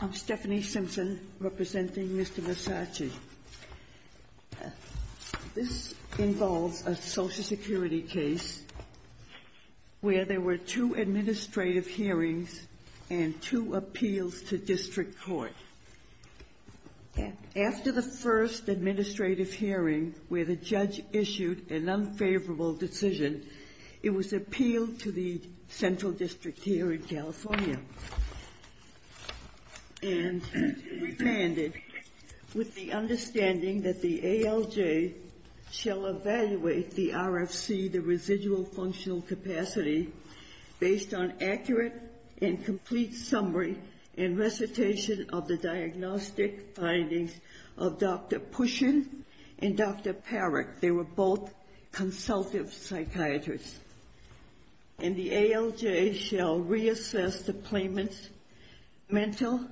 I'm Stephanie Simpson representing Mr. Massachi. This involves a Social Security case where there were two administrative hearings and two appeals to district court. After the first administrative hearing where the judge issued an unfavorable decision, it was appealed to the Central District here in California and remanded with the understanding that the ALJ shall evaluate the RFC, the residual functional capacity, based on accurate and complete summary and recitation of the diagnostic findings of Dr. Pushen and Dr. Parrick. They were both consultative psychiatrists. And the ALJ shall reassess the claimant's mental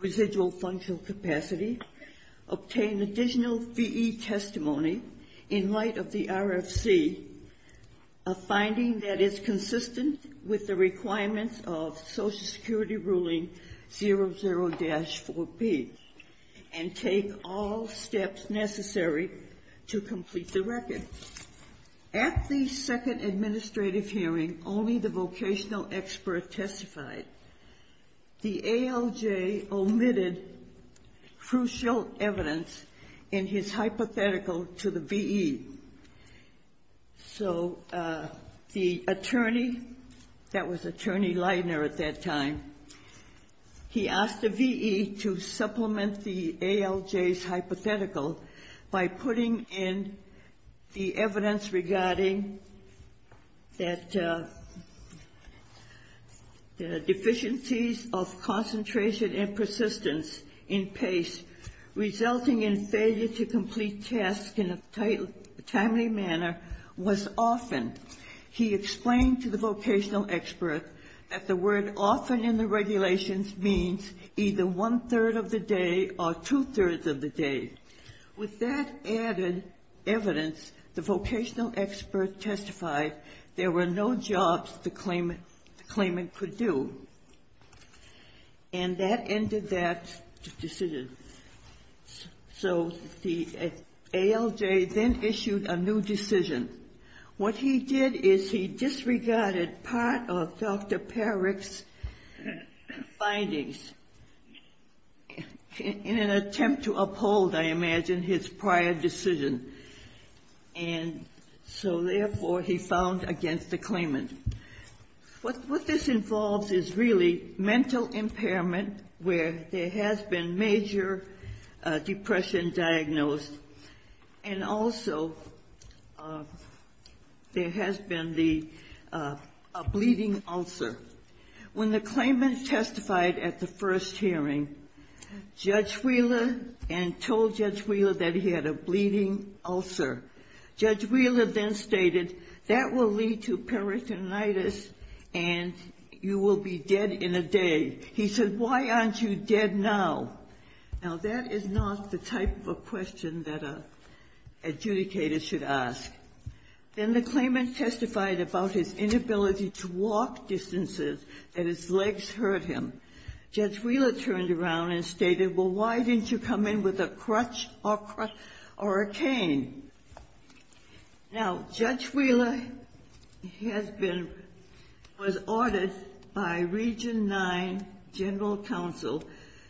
residual functional capacity, obtain additional VE testimony in light of the RFC, a finding that is consistent with the requirements of Social Security Ruling 00-4B, and take all steps necessary to complete the record. At the second administrative hearing, only the vocational expert testified. The attorney, that was Attorney Leidner at that time, he asked the VE to supplement the ALJ's hypothetical by putting in the evidence regarding that deficiencies of concentration and persistence in PACE resulting in failure to complete tasks in a timely manner was often. He explained to the vocational expert that the word often in the regulations means either one-third of the day or two-thirds of the day. With that added evidence, the vocational expert testified there were no jobs the claimant could do. And that ended that decision. So the ALJ then issued a new decision. What he did is he disregarded part of Dr. Parrick's findings in an attempt to uphold, I imagine, his prior decision. And so therefore, he found against the claimant. What this involves is really mental impairment where there has been major depression diagnosed. And also there has been a bleeding ulcer. When the claimant testified at the first hearing, Judge Wheeler, and told Judge Wheeler that he had a bleeding ulcer, Judge Wheeler then stated, that will lead to peritonitis and you will be dead in a day. He said, why aren't you dead now? Now, that is not the type of question that an adjudicator should ask. Then the claimant testified about his inability to walk distances and his legs hurt him. Judge Wheeler turned around and stated, well, why didn't you come in with a crutch or a cane? Now, Judge Wheeler has been ordered by Region IX General Counsel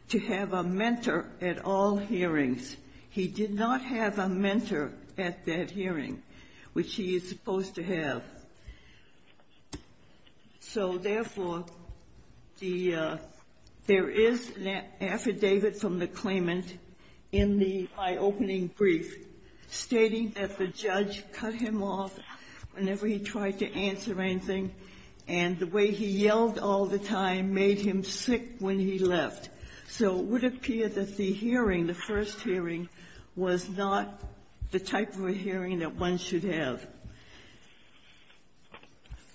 to have a mentor at all hearings. He did not have a mentor at that hearing, which he is supposed to have. So therefore, the — there is an affidavit from the claimant in the eye-opening brief stating that the judge cut him off whenever he tried to answer anything and the way he yelled all the time made him sick when he left. So it would appear that the hearing, the first hearing, was not the type of a hearing that one should have.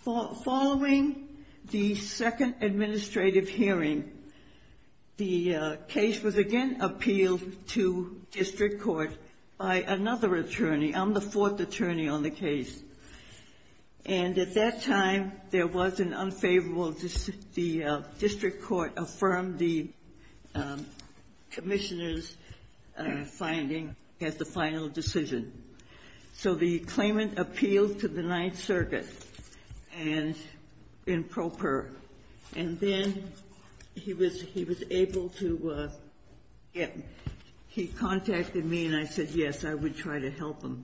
Following the second administrative hearing, the case was again appealed to district court by another attorney. I'm the attorney. Commissioner's finding is the final decision. So the claimant appealed to the Ninth Circuit and in pro per. And then he was able to get — he contacted me and I said, yes, I would try to help him.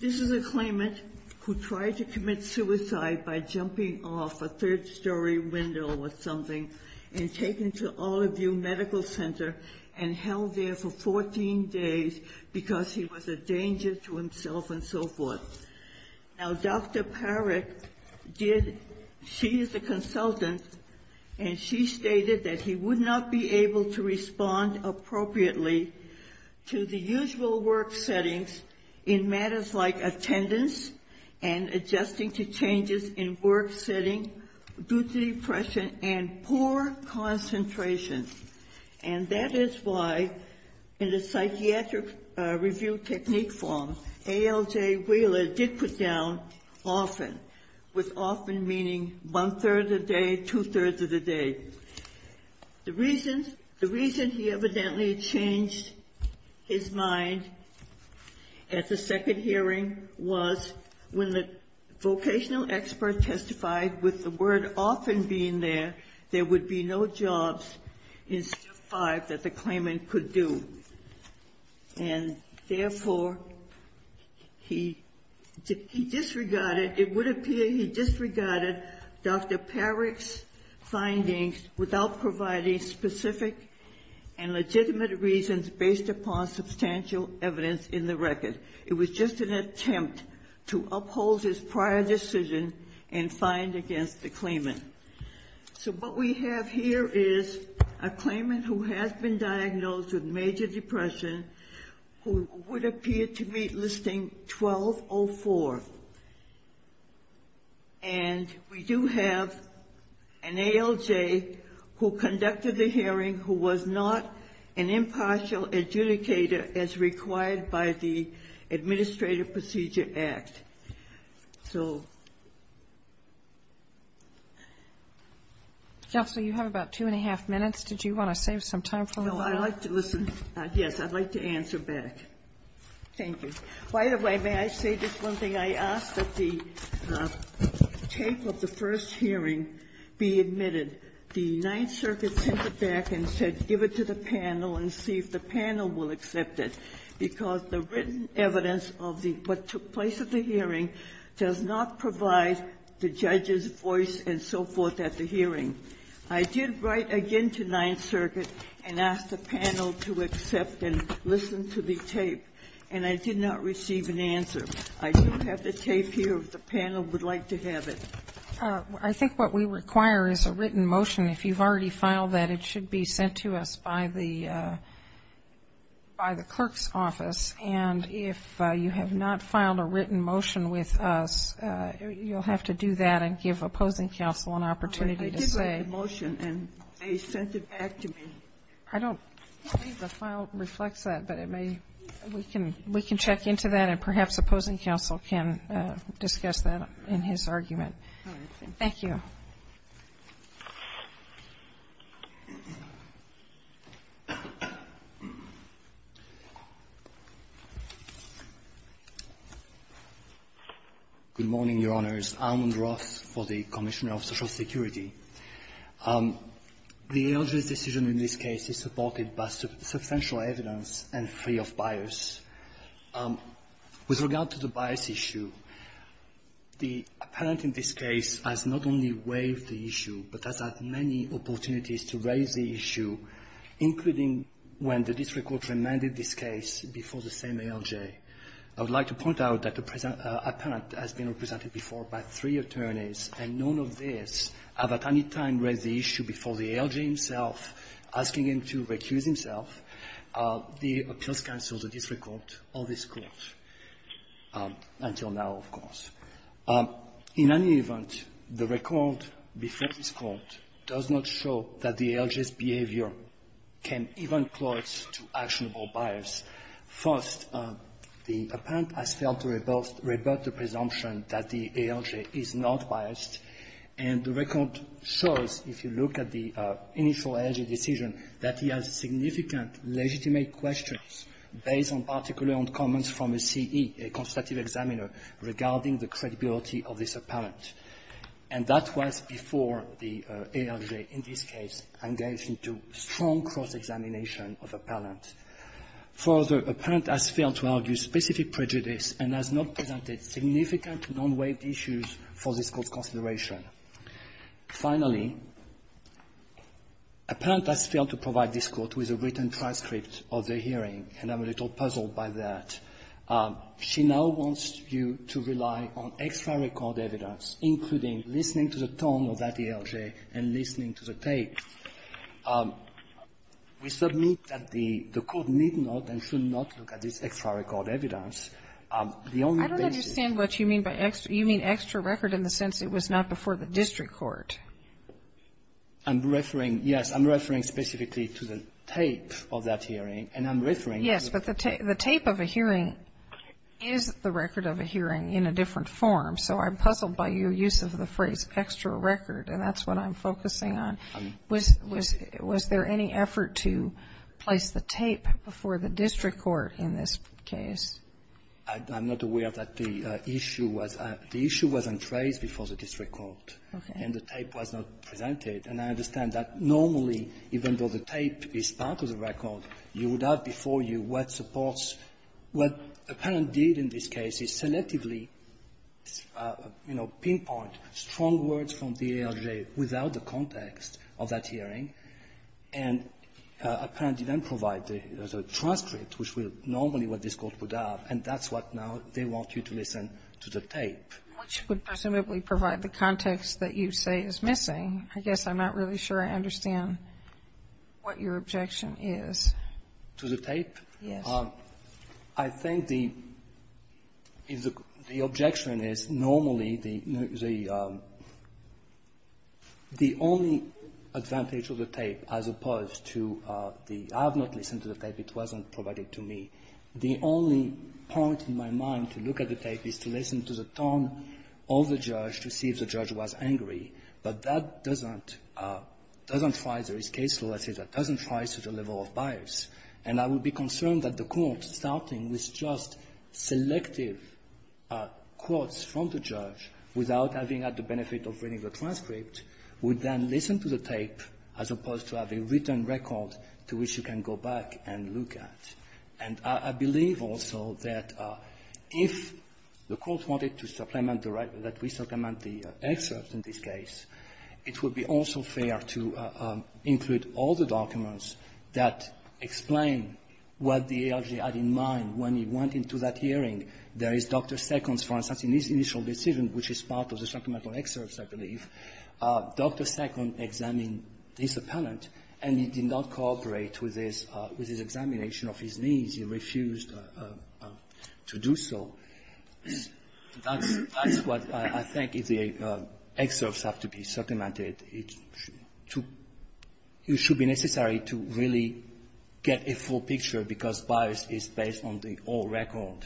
This is a claimant who tried to commit suicide by jumping off a third-story window or something and taking to all of the New Medical Center and held there for 14 days because he was a danger to himself and so forth. Now, Dr. Parrick did — she is a consultant, and she stated that he would not be able to respond appropriately to the usual work settings in matters like attendance and adjusting to changes in work setting due to depression and poor concentration. And that is why, in the psychiatric review technique form, ALJ Wheeler did put down often, with often meaning one-third of the day, At the second hearing was when the vocational expert testified with the word often being there, there would be no jobs in step 5 that the claimant could do. And therefore, he disregarded — it would appear he disregarded Dr. Parrick's findings without providing specific and legitimate reasons based upon substantial evidence in the record. It was just an attempt to uphold his prior decision and find against the claimant. So what we have here is a claimant who has been diagnosed with major depression who would appear to meet listing 1204. And we do have an ALJ who conducted the hearing who was not an impartial adjudicator as required by the Administrative Procedure Act. MS. NISBETT-CHOCKERY Counsel, you have about two-and-a-half minutes. Did you want to save some time for one more? MS. PARRICK No, I'd like to listen. Yes, I'd like to answer back. Thank you. By the way, may I say just one thing? I asked that the tape of the first hearing be admitted. The Ninth Circuit sent it back and said, give it to the panel and see if the panel will accept it, because the written evidence of the — what took place at the hearing does not provide the judge's voice and so forth at the hearing. I did write again to Ninth Circuit and asked the panel to accept and listen to the tape. And I did not receive an answer. I do have the tape here if the panel would like to have it. MS. NISBETT-CHOCKERY I think what we require is a written motion. If you've already filed that, it should be sent to us by the clerk's office. And if you have not filed a written motion with us, you'll have to do that and give opposing counsel an opportunity to say — MS. PARRICK I did write the motion, and they sent it back to me. MS. NISBETT-CHOCKERY I don't believe the file reflects that. But it may — we can — we can check into that, and perhaps opposing counsel can discuss that in his argument. MS. PARRICK All right. Thank you. MS. NISBETT-CHOCKERY Thank you. MR. ALMOND-ROTH Good morning, Your Honors. Almond-Roth for the Commissioner of Social Security. The ALJ's decision in this case is supported by substantial evidence and free of bias. With regard to the bias issue, the apparent in this case has not only waived the issue, but has had many opportunities to raise the issue, including when the district court remanded this case before the same ALJ. I would like to point out that the apparent has been represented before by three attorneys, and none of these have at any time raised the issue before the ALJ himself, asking him to recuse himself. The appeals counsel, the district court, or this Court, until now, of course. In any event, the record before this Court does not show that the ALJ's behavior can even close to actionable bias. First, the apparent has failed to revert the presumption that the ALJ is not biased. And the record shows, if you look at the initial ALJ decision, that he has significant legitimate questions based in particular on comments from a CE, a constructive examiner, regarding the credibility of this apparent. And that was before the ALJ, in this case, engaged into strong cross-examination of the apparent. Further, apparent has failed to argue specific prejudice and has not presented significant non-waived issues for this Court's consideration. Finally, apparent has failed to provide this Court with a written transcript of the hearing, and I'm a little puzzled by that. She now wants you to rely on extra record evidence, including listening to the tone of that ALJ and listening to the tape. We submit that the Court need not and should not look at this extra record evidence. The only basis of this is that the record is not before the district court. I'm referring, yes, I'm referring specifically to the tape of that hearing, and I'm referring to the tape of a hearing. Yes, but the tape of a hearing is the record of a hearing in a different form. So I'm puzzled by your use of the phrase, extra record, and that's what I'm focusing on. Was there any effort to place the tape before the district court in this case? I'm not aware that the issue was on trace before the district court, and the tape was not presented. And I understand that normally, even though the tape is part of the record, you would have before you what supports what apparent did in this case is selectively, you know, pinpoint strong words from the ALJ without the context. Of that hearing, and apparently then provide the transcript, which would normally what this Court would have. And that's what now they want you to listen to the tape. Which would presumably provide the context that you say is missing. I guess I'm not really sure I understand what your objection is. To the tape? Yes. I think the objection is normally the only advantage of the tape as opposed to the I have not listened to the tape. It wasn't provided to me. The only point in my mind to look at the tape is to listen to the tone of the judge to see if the judge was angry. But that doesn't try. There is case law that says that doesn't try such a level of bias. And I would be concerned that the Court starting with just selective quotes from the judge without having had the benefit of reading the transcript would then listen to the tape as opposed to have a written record to which you can go back and look at. And I believe also that if the Court wanted to supplement the right, that we supplement the excerpt in this case, it would be also fair to include all the documents that explain what the ARG had in mind when he went into that hearing. There is Dr. Second's, for instance, initial decision, which is part of the supplemental excerpts, I believe. Dr. Second examined this appellant, and he did not cooperate with his examination of his needs. He refused to do so. That's what I think if the excerpts have to be supplemented, it should be necessary to really get a full picture because bias is based on the old record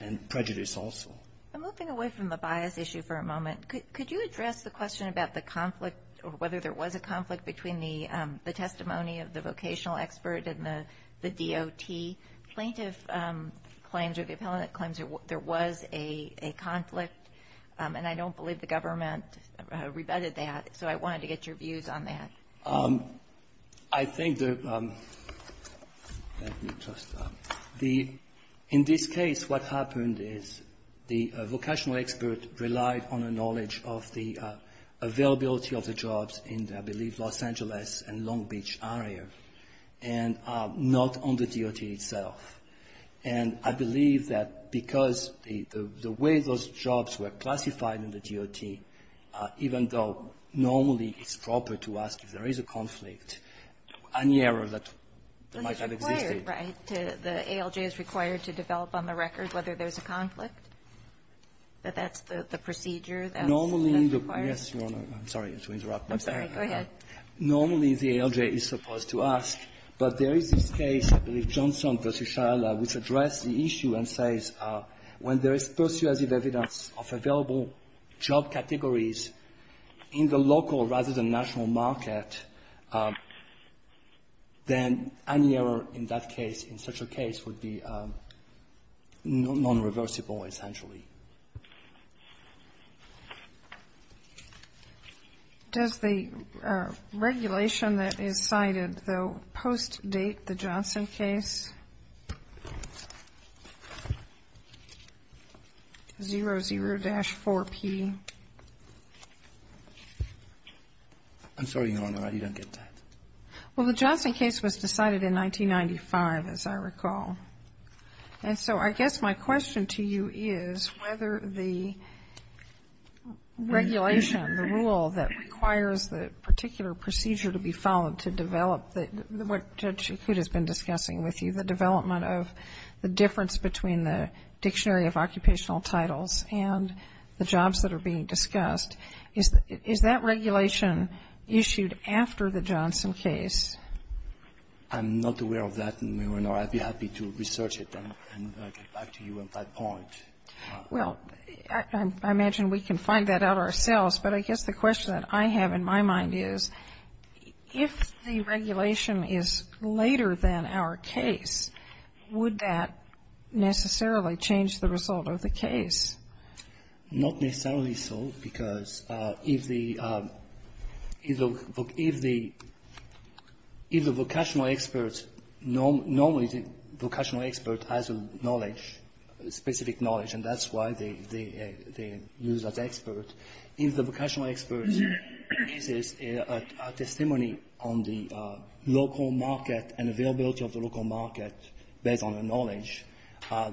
and prejudice also. I'm moving away from the bias issue for a moment. Could you address the question about the conflict or whether there was a conflict between the testimony of the vocational expert and the DOT? Plaintiff claims or the appellant claims there was a conflict. And I don't believe the government rebutted that. So I wanted to get your views on that. I think the, let me just, the, in this case what happened is the vocational expert relied on a knowledge of the availability of the jobs in, I believe, Los Angeles and Long Beach area and not on the DOT itself. And I believe that because the way those jobs were classified in the DOT, even though normally it's proper to ask if there is a conflict, any error that might have existed. But it's required, right? The ALJ is required to develop on the record whether there's a conflict, that that's the procedure that's required? Normally the, yes, Your Honor, I'm sorry to interrupt. I'm sorry. Go ahead. Normally the ALJ is supposed to ask. But there is this case, I believe Johnson v. Shahla, which addressed the issue and says when there is persuasive evidence of available job categories in the local, rather than national market, then any error in that case, in such a case, would be non-reversible essentially. Does the regulation that is cited, the post-date, the Johnson case, 00-4P, I'm sorry, Your Honor, you don't get that. Well, the Johnson case was decided in 1995, as I recall. And so I guess my question to you is whether the regulation, the rule that requires the particular procedure to be followed to develop the, what Judge Coutte has been discussing with you, the development of the difference between the Dictionary of Occupational Titles and the jobs that are being discussed, is that regulation issued after the Johnson case? I'm not aware of that, Your Honor. I'd be happy to research it and get back to you on that point. Well, I imagine we can find that out ourselves. But I guess the question that I have in my mind is, if the regulation is later than our case, would that necessarily change the result of the case? Not necessarily so, because if the vocational expert, normally the vocational expert has a knowledge, specific knowledge, and that's why they use that expert. If the vocational expert uses a testimony on the local market and availability of the local market, based on the knowledge,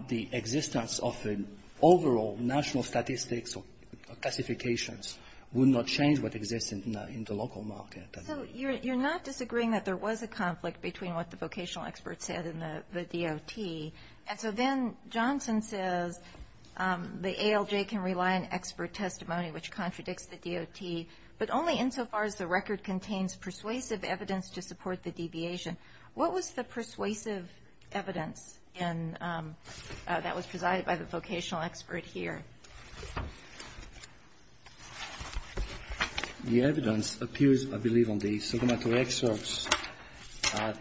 the existence of an overall national statistics or classifications would not change what exists in the local market. So you're not disagreeing that there was a conflict between what the vocational expert said and the DOT. And so then Johnson says, the ALJ can rely on expert testimony, which contradicts the DOT, but only insofar as the record contains persuasive evidence to support the deviation. What was the persuasive evidence that was presided by the vocational expert here? The evidence appears, I believe, on the supplementary excerpts. Let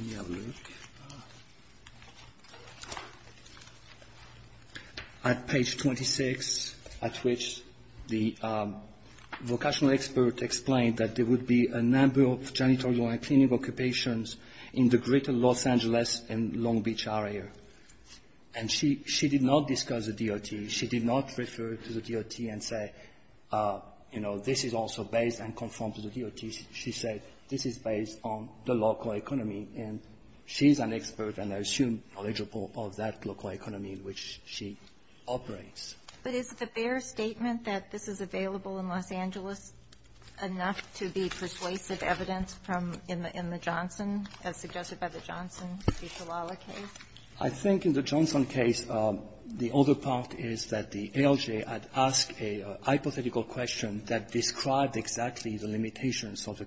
me have a look. At page 26, at which the vocational expert explained that there would be a number of janitorial and clinical occupations in the greater Los Angeles and Long Beach area. And she did not discuss the DOT. She did not refer to the DOT and say, you know, this is also based and conforms to the DOT. She said, this is based on the local economy. And she's an expert and, I assume, knowledgeable of that local economy in which she operates. But is the fair statement that this is available in Los Angeles enough to be persuasive evidence from the Johnson, as suggested by the Johnson v. Kalala case? I think in the Johnson case, the other part is that the ALJ had asked a hypothetical question that described exactly the limitations of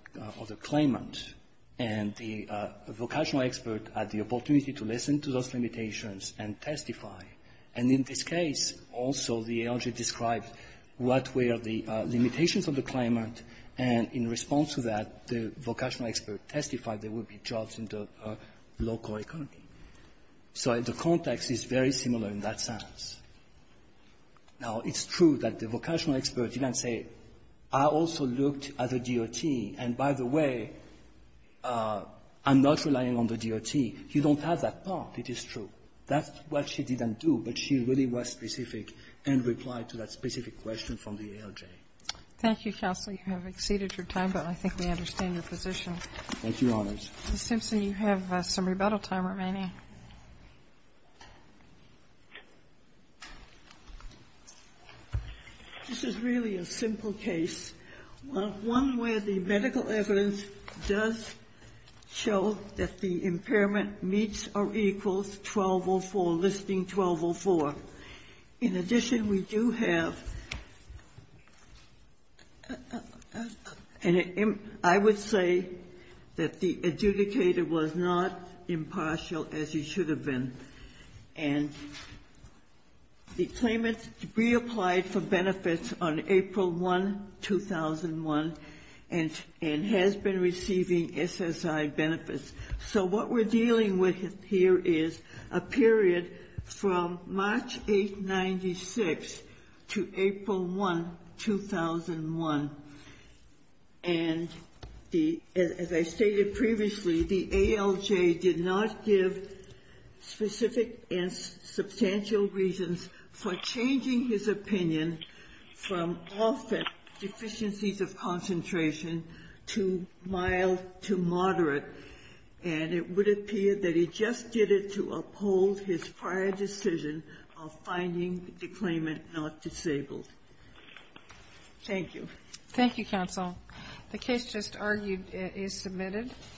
the claimant. And the vocational expert had the opportunity to listen to those limitations and testify. And in this case, also, the ALJ described what were the limitations of the claimant. And in response to that, the vocational expert testified there would be jobs in the local economy. So the context is very similar in that sense. Now, it's true that the vocational expert did not say, I also looked at the DOT, and by the way, I'm not relying on the DOT. You don't have that part. It is true. That's what she didn't do, but she really was specific and replied to that specific question from the ALJ. Thank you, counsel. You have exceeded your time, but I think we understand your position. Thank you, Your Honors. Mr. Simpson, you have some rebuttal time remaining. This is really a simple case, one where the medical evidence does show that the impairment meets or equals 1204, listing 1204. In addition, we do have, and I would say that the adjudicator was not impartial as he should have been. And the claimant reapplied for benefits on April 1, 2001, and has been receiving SSI benefits. So what we're dealing with here is a period from March 8, 96 to April 1, 2001. And as I stated previously, the ALJ did not give specific and substantial reasons for changing his opinion from often deficiencies of concentration to mild to moderate. And it would appear that he just did it to uphold his prior decision of finding the claimant not disabled. Thank you. Thank you, counsel. The case just argued is submitted.